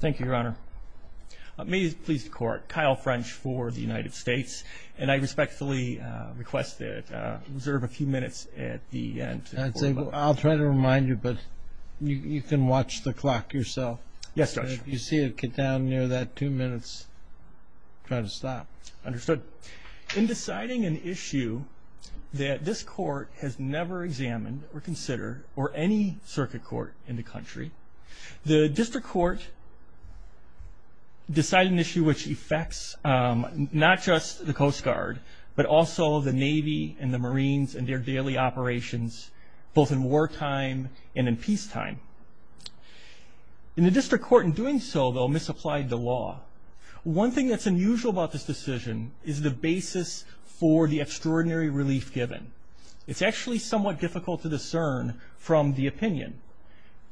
Thank you, Your Honor. May it please the Court, Kyle French for the United States. And I respectfully request that you reserve a few minutes at the end. I'll try to remind you, but you can watch the clock yourself. Yes, Judge. If you see it get down near that two minutes, try to stop. Understood. In deciding an issue that this Court has never examined or considered, or any circuit court in the country, the District Court decided an issue which affects not just the Coast Guard, but also the Navy and the Marines and their daily operations, both in wartime and in peacetime. And the District Court, in doing so, though, misapplied the law. One thing that's unusual about this decision is the basis for the extraordinary relief given. It's actually somewhat difficult to discern from the opinion.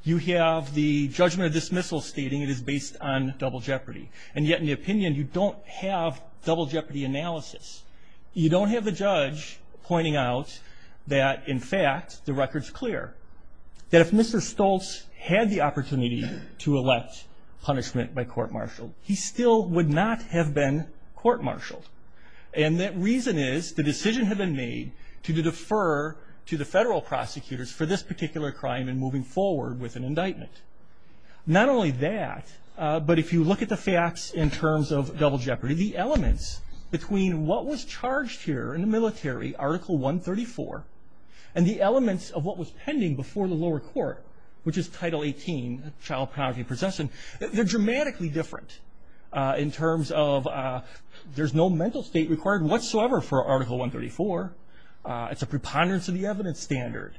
You have the judgment of dismissal stating it is based on double jeopardy. And yet, in the opinion, you don't have double jeopardy analysis. You don't have the judge pointing out that, in fact, the record's clear, that if Mr. Stoltz had the opportunity to elect punishment by court-martial, he still would not have been court-martialed. And that reason is the decision had been made to defer to the federal prosecutors for this particular crime in moving forward with an indictment. Not only that, but if you look at the facts in terms of double jeopardy, the elements between what was charged here in the military, Article 134, and the elements of what was pending before the lower court, which is Title 18, child pornography and possession, they're dramatically different in terms of there's no mental state required whatsoever for Article 134. It's a preponderance of the evidence standard.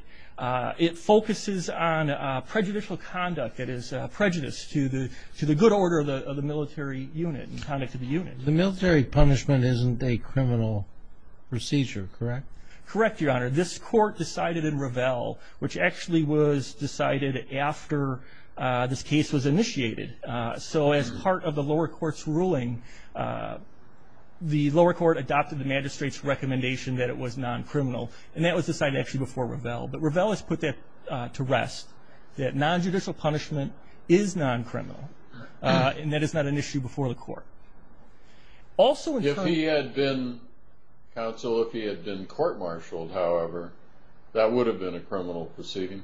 It focuses on prejudicial conduct that is prejudiced to the good order of the military unit and conduct of the unit. The military punishment isn't a criminal procedure, correct? Correct, Your Honor. This court decided in Revell, which actually was decided after this case was initiated. So as part of the lower court's ruling, the lower court adopted the magistrate's recommendation that it was non-criminal, and that was decided actually before Revell. But Revell has put that to rest, that non-judicial punishment is non-criminal, and that is not an issue before the court. If he had been counsel, if he had been court-martialed, however, that would have been a criminal proceeding.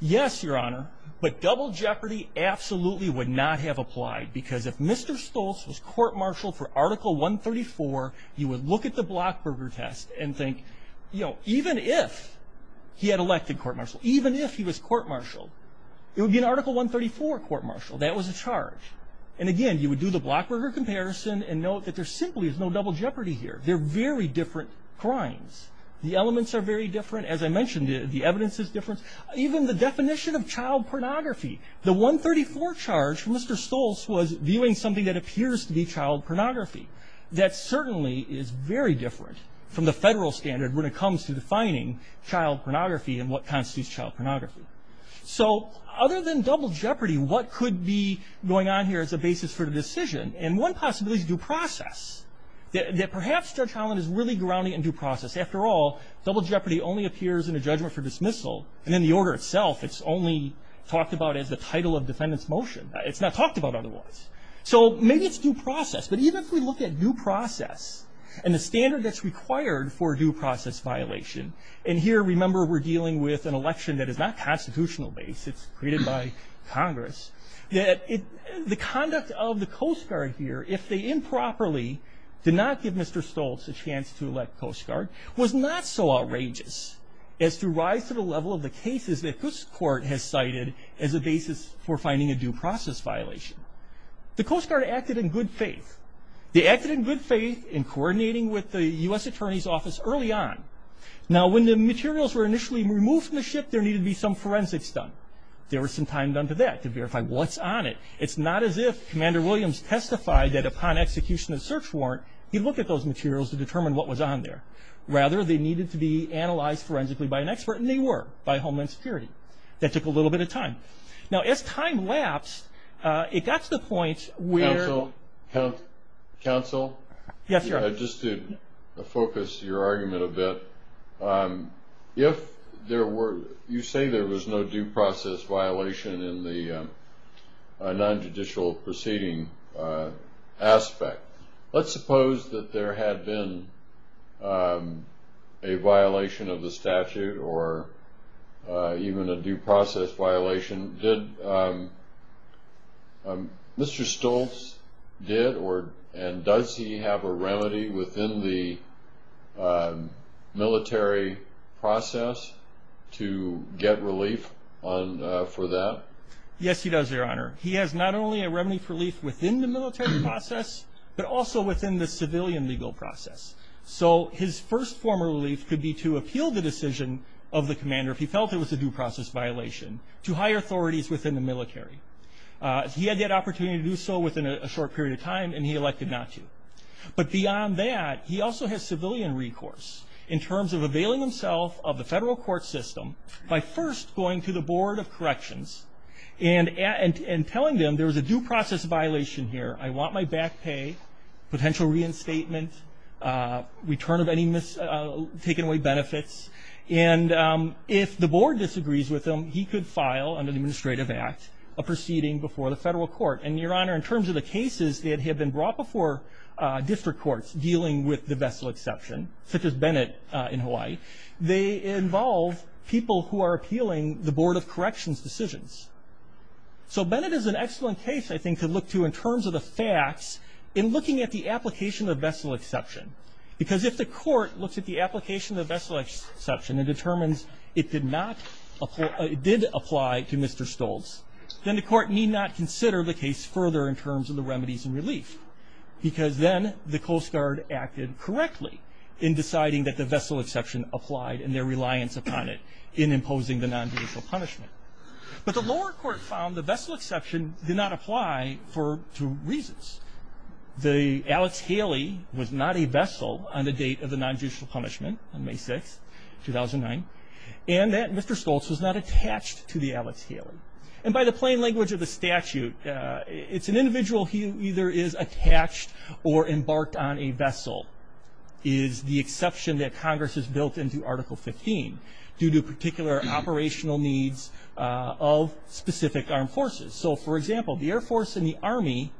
Yes, Your Honor, but double jeopardy absolutely would not have applied, because if Mr. Stoltz was court-martialed for Article 134, you would look at the Blockberger test and think, you know, even if he had elected court-martial, even if he was court-martialed, it would be an Article 134 court-martial. That was a charge. And, again, you would do the Blockberger comparison and note that there simply is no double jeopardy here. They're very different crimes. The elements are very different. As I mentioned, the evidence is different. Even the definition of child pornography, the 134 charge from Mr. Stoltz was viewing something that appears to be child pornography. That certainly is very different from the Federal standard when it comes to defining child pornography and what constitutes child pornography. So other than double jeopardy, what could be going on here as a basis for the decision? And one possibility is due process, that perhaps Judge Holland is really grounding in due process. After all, double jeopardy only appears in a judgment for dismissal, and in the order itself it's only talked about as the title of defendant's motion. It's not talked about otherwise. So maybe it's due process, but even if we look at due process and the standard that's required for due process violation, and here remember we're dealing with an election that is not constitutional-based. It's created by Congress. The conduct of the Coast Guard here, if they improperly did not give Mr. Stoltz a chance to elect Coast Guard, was not so outrageous as to rise to the level of the cases that this court has cited as a basis for finding a due process violation. The Coast Guard acted in good faith. They acted in good faith in coordinating with the U.S. Attorney's Office early on. Now when the materials were initially removed from the ship, there needed to be some forensics done. There was some time done to that to verify what's on it. It's not as if Commander Williams testified that upon execution of the search warrant, he looked at those materials to determine what was on there. Rather, they needed to be analyzed forensically by an expert, and they were by Homeland Security. That took a little bit of time. Now as time lapsed, it got to the point where- Counsel? Counsel? Yes, Your Honor. Just to focus your argument a bit, if you say there was no due process violation in the non-judicial proceeding aspect, let's suppose that there had been a violation of the statute or even a due process violation. Did Mr. Stoltz did, and does he have a remedy within the military process to get relief for that? Yes, he does, Your Honor. He has not only a remedy for relief within the military process, but also within the civilian legal process. So his first form of relief could be to appeal the decision of the commander, if he felt it was a due process violation, to higher authorities within the military. He had that opportunity to do so within a short period of time, and he elected not to. But beyond that, he also has civilian recourse, in terms of availing himself of the federal court system by first going to the Board of Corrections and telling them there was a due process violation here. I want my back pay, potential reinstatement, return of any taken away benefits. And if the Board disagrees with him, he could file under the Administrative Act a proceeding before the federal court. And, Your Honor, in terms of the cases that had been brought before district courts dealing with the vessel exception, such as Bennett in Hawaii, they involve people who are appealing the Board of Corrections decisions. So Bennett is an excellent case, I think, to look to in terms of the facts in looking at the application of vessel exception. Because if the court looks at the application of vessel exception and determines it did apply to Mr. Stoltz, then the court need not consider the case further in terms of the remedies and relief. Because then the Coast Guard acted correctly in deciding that the vessel exception applied and their reliance upon it in imposing the nonjudicial punishment. But the lower court found the vessel exception did not apply for two reasons. The Alex Haley was not a vessel on the date of the nonjudicial punishment, on May 6, 2009, and that Mr. Stoltz was not attached to the Alex Haley. And by the plain language of the statute, it's an individual who either is attached or embarked on a vessel. The exception that Congress has built into Article 15 due to particular operational needs of specific armed forces. So, for example, the Air Force and the Army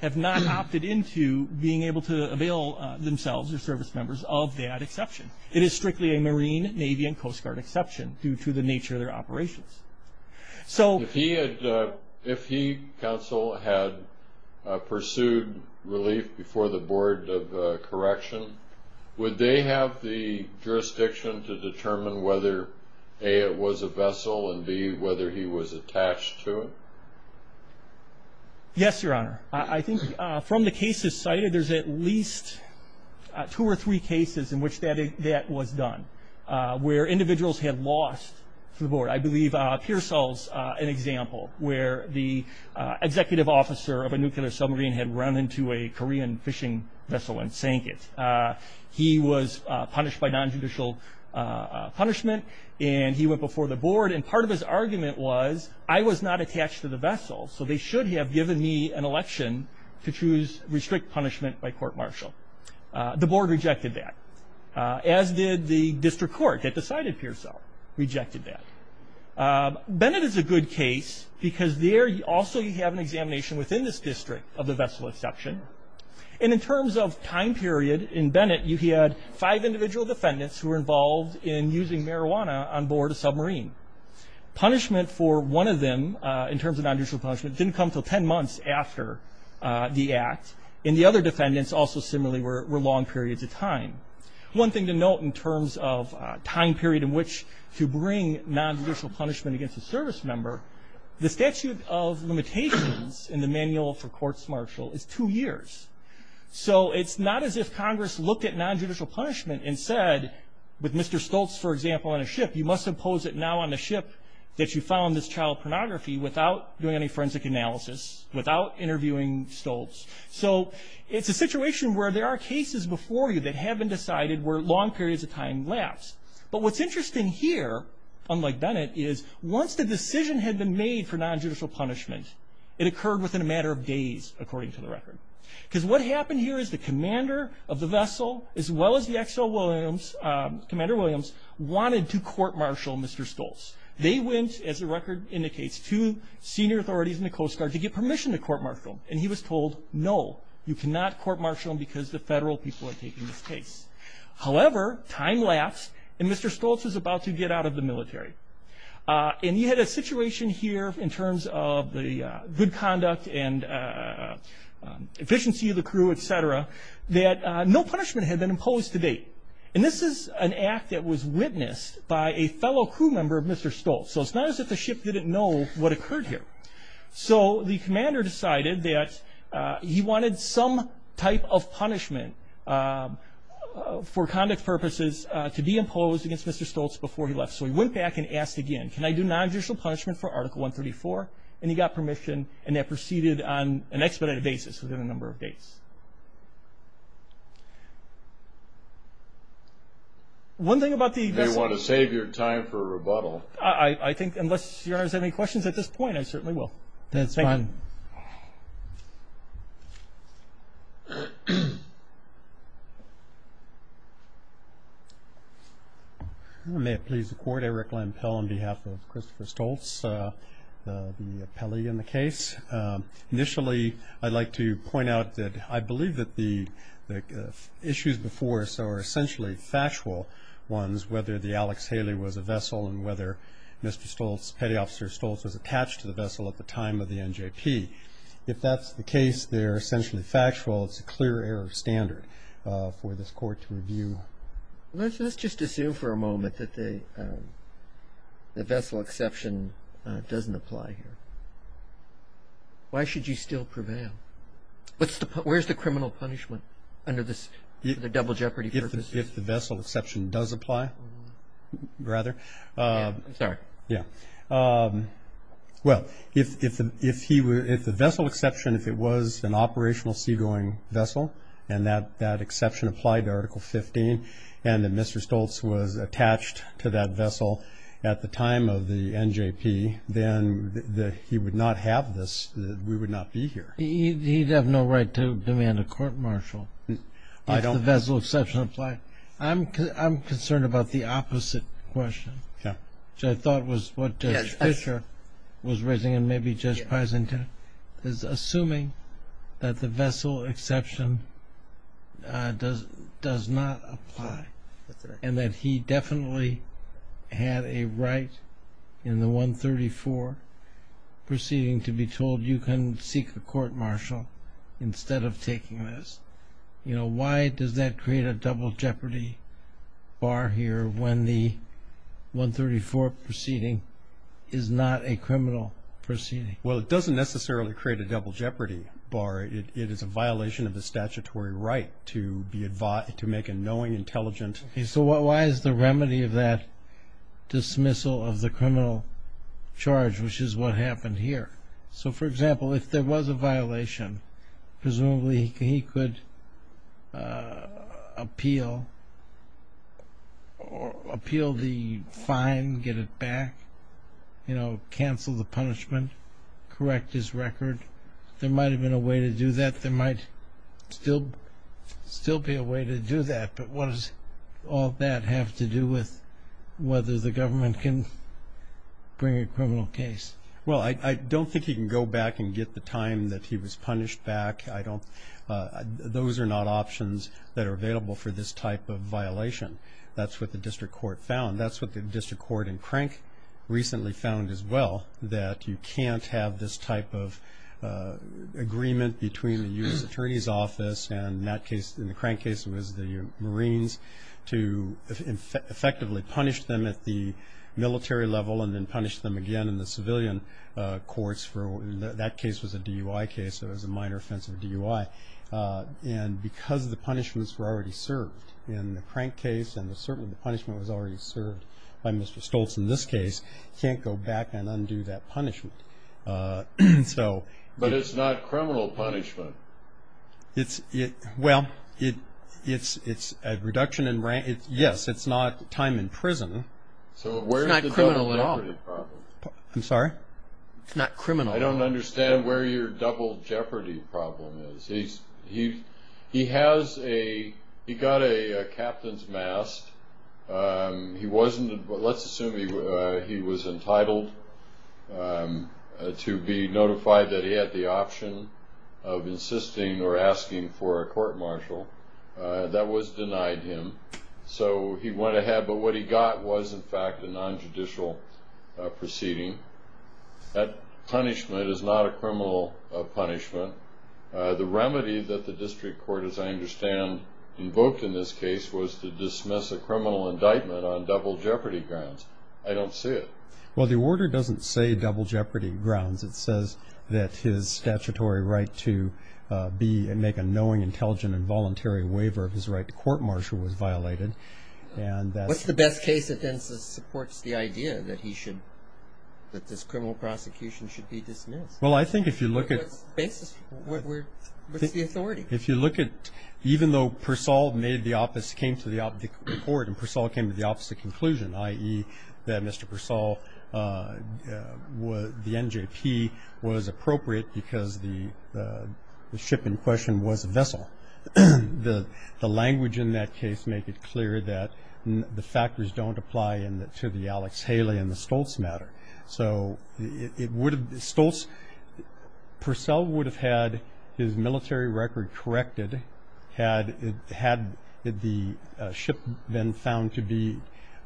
have not opted into being able to avail themselves or service members of that exception. It is strictly a Marine, Navy, and Coast Guard exception due to the nature of their operations. If he, counsel, had pursued relief before the Board of Correction, would they have the jurisdiction to determine whether, A, it was a vessel, and, B, whether he was attached to it? Yes, Your Honor. I think from the cases cited, there's at least two or three cases in which that was done where individuals had lost to the Board. I believe Pearsall's an example where the executive officer of a nuclear submarine had run into a Korean fishing vessel and sank it. He was punished by nonjudicial punishment, and he went before the Board. And part of his argument was, I was not attached to the vessel, so they should have given me an election to choose restrict punishment by court-martial. The Board rejected that, as did the district court that decided Pearsall rejected that. Bennett is a good case because there also you have an examination within this district of the vessel exception. And in terms of time period in Bennett, he had five individual defendants who were involved in using marijuana on board a submarine. Punishment for one of them, in terms of nonjudicial punishment, didn't come until ten months after the act. And the other defendants also similarly were long periods of time. One thing to note in terms of time period in which to bring nonjudicial punishment against a service member, the statute of limitations in the manual for court-martial is two years. So it's not as if Congress looked at nonjudicial punishment and said with Mr. Stoltz, for example, on a ship, you must impose it now on the ship that you found this child pornography without doing any forensic analysis, without interviewing Stoltz. So it's a situation where there are cases before you that have been decided where long periods of time lapse. But what's interesting here, unlike Bennett, is once the decision had been made for nonjudicial punishment, it occurred within a matter of days, according to the record. Because what happened here is the commander of the vessel, as well as the XL Williams, Commander Williams, wanted to court-martial Mr. Stoltz. They went, as the record indicates, to senior authorities in the Coast Guard to get permission to court-martial him. And he was told, no, you cannot court-martial him because the federal people are taking this case. However, time lapsed, and Mr. Stoltz was about to get out of the military. And you had a situation here in terms of the good conduct and efficiency of the crew, et cetera, that no punishment had been imposed to date. And this is an act that was witnessed by a fellow crew member of Mr. Stoltz. So it's not as if the ship didn't know what occurred here. So the commander decided that he wanted some type of punishment for conduct purposes to be imposed against Mr. Stoltz before he left. So he went back and asked again, can I do nonjudicial punishment for Article 134? And he got permission, and that proceeded on an expedited basis within a number of days. One thing about the vessel. You may want to save your time for a rebuttal. I think unless Your Honor has any questions at this point, I certainly will. That's fine. May it please the Court, Eric Lempel on behalf of Christopher Stoltz, the appellee in the case. Initially, I'd like to point out that I believe that the issues before us are essentially factual ones, whether the Alex Haley was a vessel and whether Petty Officer Stoltz was attached to the vessel at the time of the NJP. If that's the case, they're essentially factual. It's a clear error of standard for this Court to review. Let's just assume for a moment that the vessel exception doesn't apply here. Why should you still prevail? Where's the criminal punishment for the double jeopardy purposes? If the vessel exception does apply, rather. I'm sorry. Yeah. Well, if the vessel exception, if it was an operational seagoing vessel and that exception applied to Article 15 and that Mr. Stoltz was attached to that vessel at the time of the NJP, then he would not have this, we would not be here. He'd have no right to demand a court-martial. If the vessel exception applied. I'm concerned about the opposite question, which I thought was what Judge Fischer was raising and maybe Judge Peysen did, is assuming that the vessel exception does not apply and that he definitely had a right in the 134 proceeding to be told, you can seek a court-martial instead of taking this. Why does that create a double jeopardy bar here when the 134 proceeding is not a criminal proceeding? Well, it doesn't necessarily create a double jeopardy bar. It is a violation of the statutory right to make a knowing, intelligent. So why is the remedy of that dismissal of the criminal charge, which is what happened here? So, for example, if there was a violation, presumably he could appeal the fine, get it back, cancel the punishment, correct his record. There might have been a way to do that. There might still be a way to do that, but what does all that have to do with whether the government can bring a criminal case? Well, I don't think he can go back and get the time that he was punished back. Those are not options that are available for this type of violation. That's what the district court found. That's what the district court in Crank recently found as well, that you can't have this type of agreement between the U.S. Attorney's Office and in the Crank case it was the Marines to effectively punish them at the military level and then punish them again in the civilian courts. That case was a DUI case, so it was a minor offense of DUI. And because the punishments were already served in the Crank case and the punishment was already served by Mr. Stoltz in this case, he can't go back and undo that punishment. But it's not criminal punishment. Well, yes, it's not time in prison. It's not criminal at all. I'm sorry? It's not criminal. I don't understand where your double jeopardy problem is. He got a captain's mask. Let's assume he was entitled to be notified that he had the option of insisting or asking for a court-martial. That was denied him, so he went ahead. But what he got was, in fact, a nonjudicial proceeding. That punishment is not a criminal punishment. The remedy that the district court, as I understand, invoked in this case, was to dismiss a criminal indictment on double jeopardy grounds. I don't see it. Well, the order doesn't say double jeopardy grounds. It says that his statutory right to make a knowing, intelligent, and voluntary waiver of his right to court-martial was violated. What's the best case that then supports the idea that he should – that this criminal prosecution should be dismissed? Well, I think if you look at – What's the authority? If you look at – even though Persall came to the court and Persall came to the opposite conclusion, i.e., that Mr. Persall, the NJP, was appropriate because the ship in question was a vessel. The language in that case make it clear that the factors don't apply to the Alex Haley and the Stoltz matter. So it would have – Stoltz – Persall would have had his military record corrected had the ship been found to be –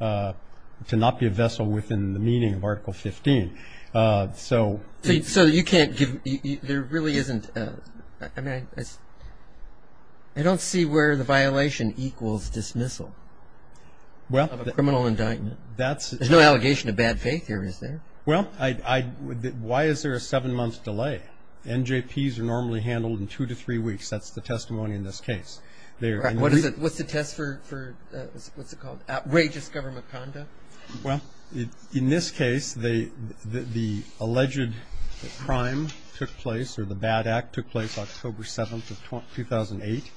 to not be a vessel within the meaning of Article 15. So you can't give – there really isn't – I don't see where the violation equals dismissal of a criminal indictment. There's no allegation of bad faith here, is there? Well, why is there a seven-month delay? NJPs are normally handled in two to three weeks. That's the testimony in this case. What's the test for – what's it called? Outrageous government conduct? Well, in this case, the alleged crime took place or the bad act took place October 7th of 2008.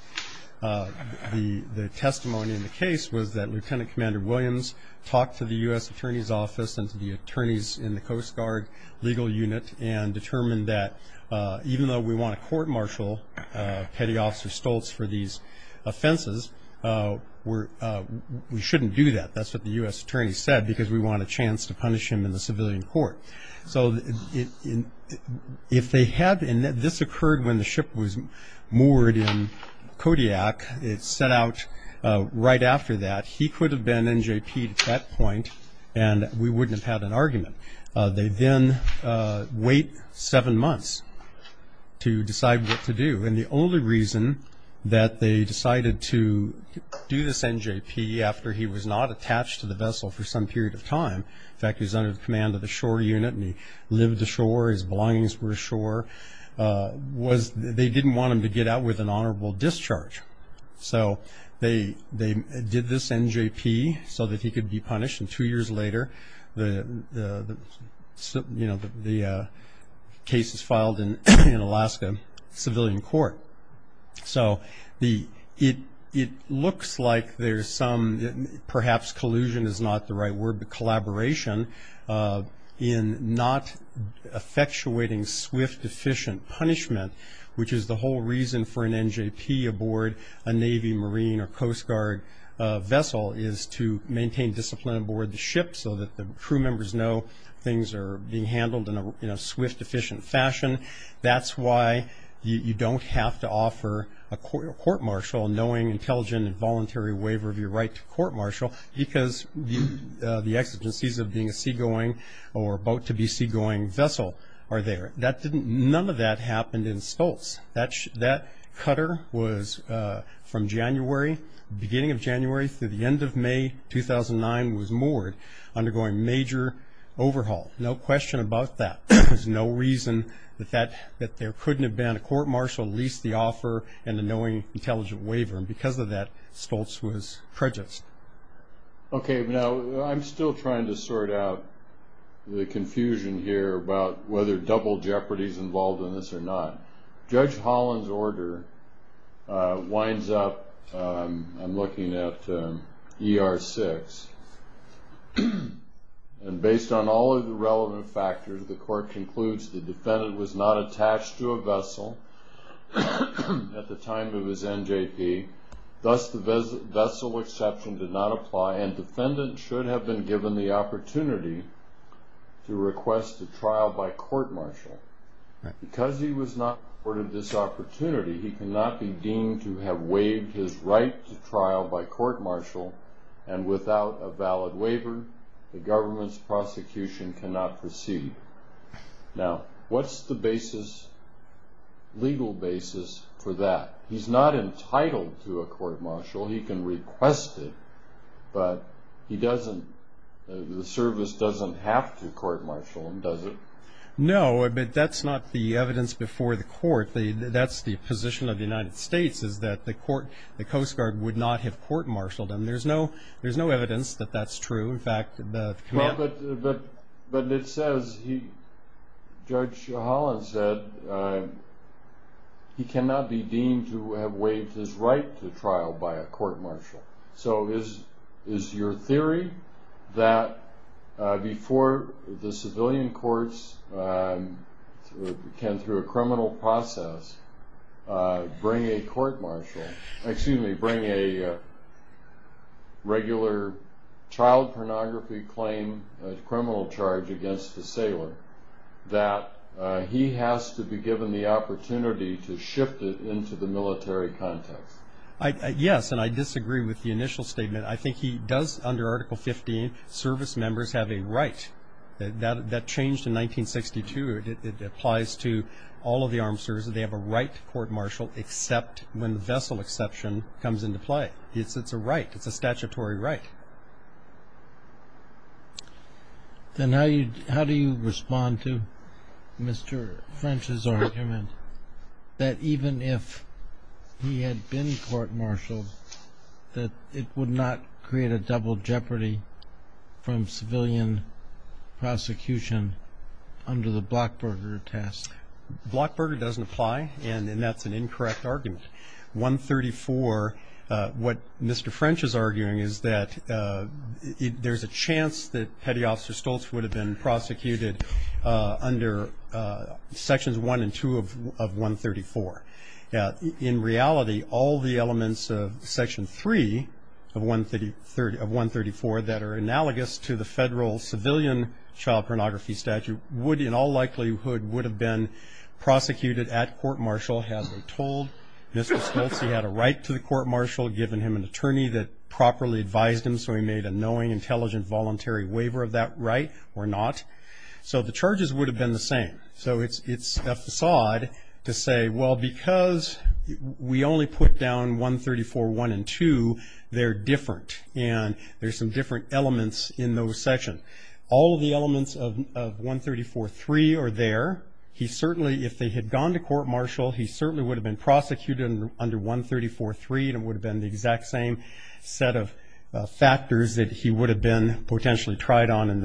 The testimony in the case was that Lieutenant Commander Williams talked to the U.S. Attorney's Office and to the attorneys in the Coast Guard Legal Unit and determined that even though we want to court-martial Petty Officer Stoltz for these offenses, we shouldn't do that. That's what the U.S. Attorney said because we want a chance to punish him in the civilian court. So if they had – and this occurred when the ship was moored in Kodiak. It set out right after that. He could have been NJP'd at that point, and we wouldn't have had an argument. They then wait seven months to decide what to do, and the only reason that they decided to do this NJP after he was not attached to the vessel for some period of time – in fact, he was under the command of the shore unit and he lived ashore, his belongings were ashore – was they didn't want him to get out with an honorable discharge. So they did this NJP so that he could be punished, and two years later the case is filed in Alaska civilian court. So it looks like there's some – perhaps collusion is not the right word, but collaboration in not effectuating swift, efficient punishment, which is the whole reason for an NJP aboard a Navy, Marine, or Coast Guard vessel is to maintain discipline aboard the ship so that the crew members know things are being handled in a swift, efficient fashion. That's why you don't have to offer a court martial knowing intelligent and voluntary waiver of your right to court martial because the exigencies of being a seagoing or about to be seagoing vessel are there. None of that happened in Stoltz. That cutter was from January, beginning of January through the end of May 2009, was moored, undergoing major overhaul. No question about that. There's no reason that there couldn't have been a court martial, at least the offer and the knowing intelligent waiver, and because of that Stoltz was prejudiced. Okay, now I'm still trying to sort out the confusion here about whether double jeopardy is involved in this or not. Judge Holland's order winds up, I'm looking at ER 6, and based on all of the relevant factors the court concludes the defendant was not attached to a vessel at the time of his NJP, thus the vessel exception did not apply, and defendant should have been given the opportunity to request a trial by court martial. Because he was not afforded this opportunity, he cannot be deemed to have waived his right to trial by court martial, and without a valid waiver the government's prosecution cannot proceed. Now, what's the legal basis for that? He's not entitled to a court martial. He can request it, but the service doesn't have to court martial him, does it? No, but that's not the evidence before the court. That's the position of the United States, is that the Coast Guard would not have court martialed him. There's no evidence that that's true. But it says, Judge Holland said, he cannot be deemed to have waived his right to trial by a court martial. So is your theory that before the civilian courts can, through a criminal process, bring a court martial, a criminal charge against the sailor, that he has to be given the opportunity to shift it into the military context? Yes, and I disagree with the initial statement. I think he does, under Article 15, service members have a right. That changed in 1962. It applies to all of the armed services. They have a right to court martial except when the vessel exception comes into play. It's a right. It's a statutory right. Then how do you respond to Mr. French's argument that even if he had been court martialed, that it would not create a double jeopardy from civilian prosecution under the Blockburger test? Blockburger doesn't apply, and that's an incorrect argument. 134, what Mr. French is arguing is that there's a chance that Petty Officer Stoltz would have been prosecuted under Sections 1 and 2 of 134. In reality, all the elements of Section 3 of 134 that are analogous to the federal civilian child pornography statute would, in all likelihood, would have been prosecuted at court martial had they told Mr. Stoltz he had a right to the court martial, given him an attorney that properly advised him so he made a knowing, intelligent, voluntary waiver of that right or not. So the charges would have been the same. So it's a facade to say, well, because we only put down 134.1 and 2, they're different, and there's some different elements in those sections. All of the elements of 134.3 are there. He certainly, if they had gone to court martial, he certainly would have been prosecuted under 134.3, and it would have been the exact same set of factors that he would have been potentially tried on in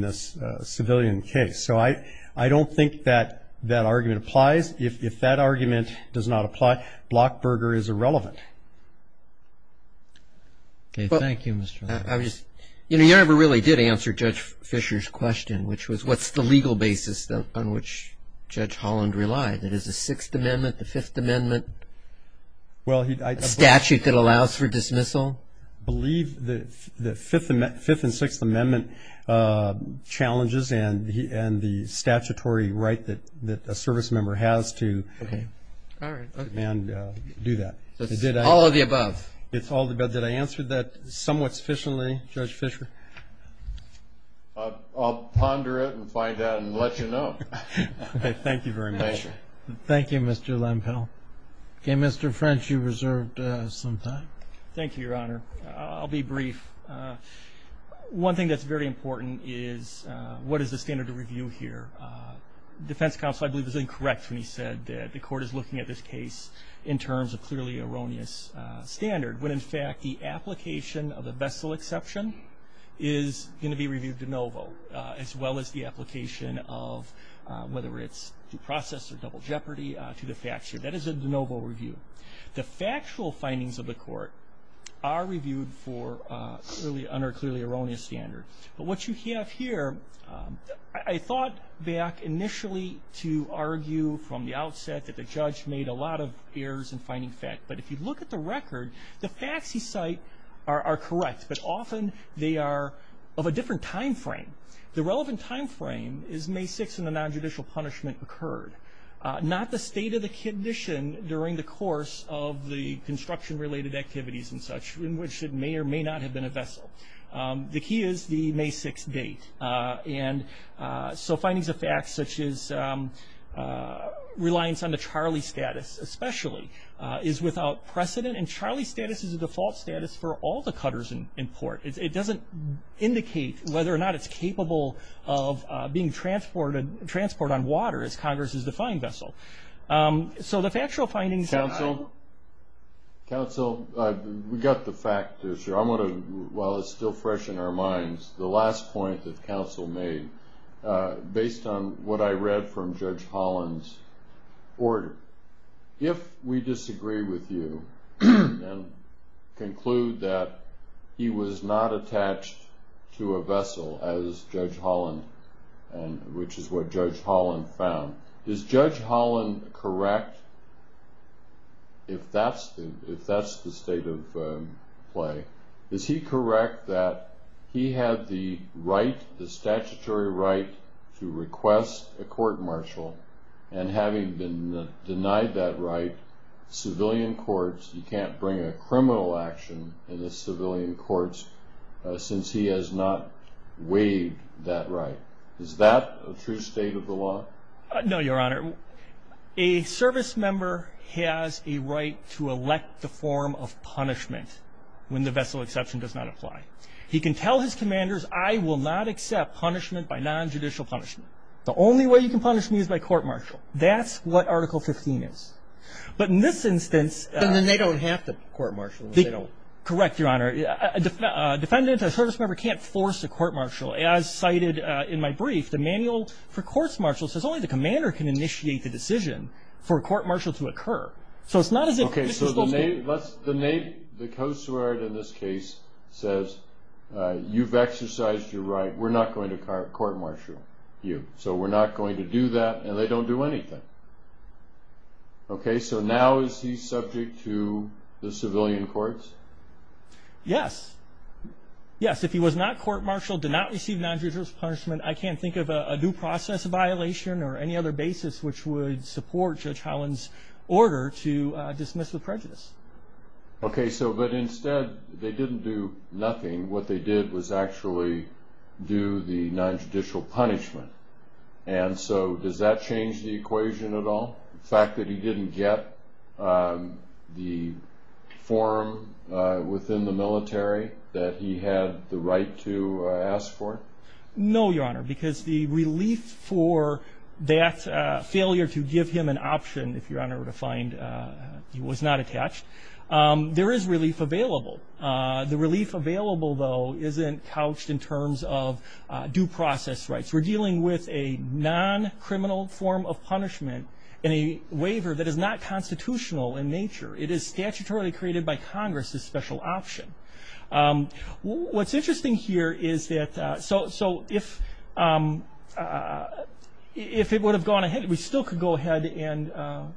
this civilian case. So I don't think that that argument applies. If that argument does not apply, Blockburger is irrelevant. Okay, thank you, Mr. Larson. You know, you never really did answer Judge Fisher's question, which was what's the legal basis on which Judge Holland relied? Is it the Sixth Amendment, the Fifth Amendment, a statute that allows for dismissal? I believe the Fifth and Sixth Amendment challenges and the statutory right that a service member has to do that. So it's all of the above? It's all of the above. Did I answer that somewhat sufficiently, Judge Fisher? I'll ponder it and find out and let you know. Okay, thank you very much. Thank you. Thank you, Mr. Lempel. Okay, Mr. French, you reserved some time. Thank you, Your Honor. I'll be brief. One thing that's very important is what is the standard of review here? The defense counsel, I believe, was incorrect when he said that the court is looking at this case in terms of clearly erroneous standard, when, in fact, the application of the vessel exception is going to be reviewed de novo, as well as the application of whether it's due process or double jeopardy to the fact sheet. That is a de novo review. The factual findings of the court are reviewed under clearly erroneous standard. But what you have here, I thought back initially to argue from the outset that the judge made a lot of errors in finding fact. But if you look at the record, the facts he cite are correct, but often they are of a different time frame. The relevant time frame is May 6th when the nonjudicial punishment occurred, not the state of the condition during the course of the construction-related activities and such, in which it may or may not have been a vessel. The key is the May 6th date. So findings of fact, such as reliance on the Charlie status, especially, is without precedent. And Charlie status is a default status for all the cutters in port. It doesn't indicate whether or not it's capable of being transported on water, as Congress has defined vessel. So the factual findings are- Counsel, we got the fact there, sir. I want to, while it's still fresh in our minds, the last point that counsel made, based on what I read from Judge Holland's order, if we disagree with you and conclude that he was not attached to a vessel as Judge Holland, which is what Judge Holland found, is Judge Holland correct, if that's the state of play, is he correct that he had the right, the statutory right, to request a court-martial, and having been denied that right, civilian courts, you can't bring a criminal action in the civilian courts since he has not waived that right. Is that a true state of the law? No, Your Honor. A service member has a right to elect the form of punishment when the vessel exception does not apply. He can tell his commanders, I will not accept punishment by nonjudicial punishment. The only way you can punish me is by court-martial. That's what Article 15 is. But in this instance- Correct, Your Honor. A defendant, a service member, can't force a court-martial. As cited in my brief, the manual for court-martial says only the commander can initiate the decision for a court-martial to occur. So it's not as if Mr. Stoltz- Okay, so the co-sueur in this case says, you've exercised your right, we're not going to court-martial you. So we're not going to do that, and they don't do anything. Okay, so now is he subject to the civilian courts? Yes. Yes, if he was not court-martialed, did not receive nonjudicial punishment, I can't think of a due process violation or any other basis which would support Judge Holland's order to dismiss with prejudice. Okay, so but instead, they didn't do nothing. What they did was actually do the nonjudicial punishment. And so does that change the equation at all? The fact that he didn't get the form within the military that he had the right to ask for? No, Your Honor, because the relief for that failure to give him an option, if Your Honor were to find he was not attached, there is relief available. The relief available, though, isn't couched in terms of due process rights. We're dealing with a non-criminal form of punishment in a waiver that is not constitutional in nature. It is statutorily created by Congress as special option. What's interesting here is that so if it would have gone ahead, we still could go ahead and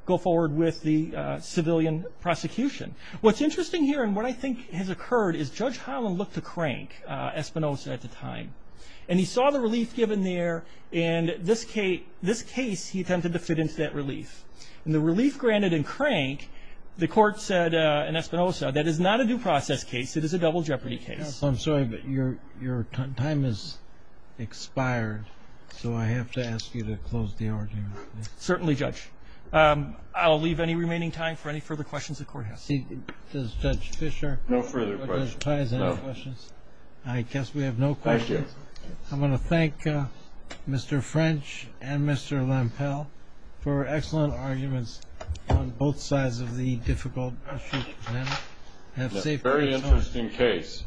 go forward with the civilian prosecution. What's interesting here and what I think has occurred is Judge Holland looked to crank Espinosa at the time, and he saw the relief given there, and this case he attempted to fit into that relief. And the relief granted in crank, the court said in Espinosa, that is not a due process case. It is a double jeopardy case. I'm sorry, but your time has expired, so I have to ask you to close the argument. Certainly, Judge. I'll leave any remaining time for any further questions the Court has. Does Judge Fischer? No further questions. Judge Pais, any questions? No. I guess we have no questions. Thank you. I'm going to thank Mr. French and Mr. Lempel for excellent arguments on both sides of the difficult issue. It's a very interesting case.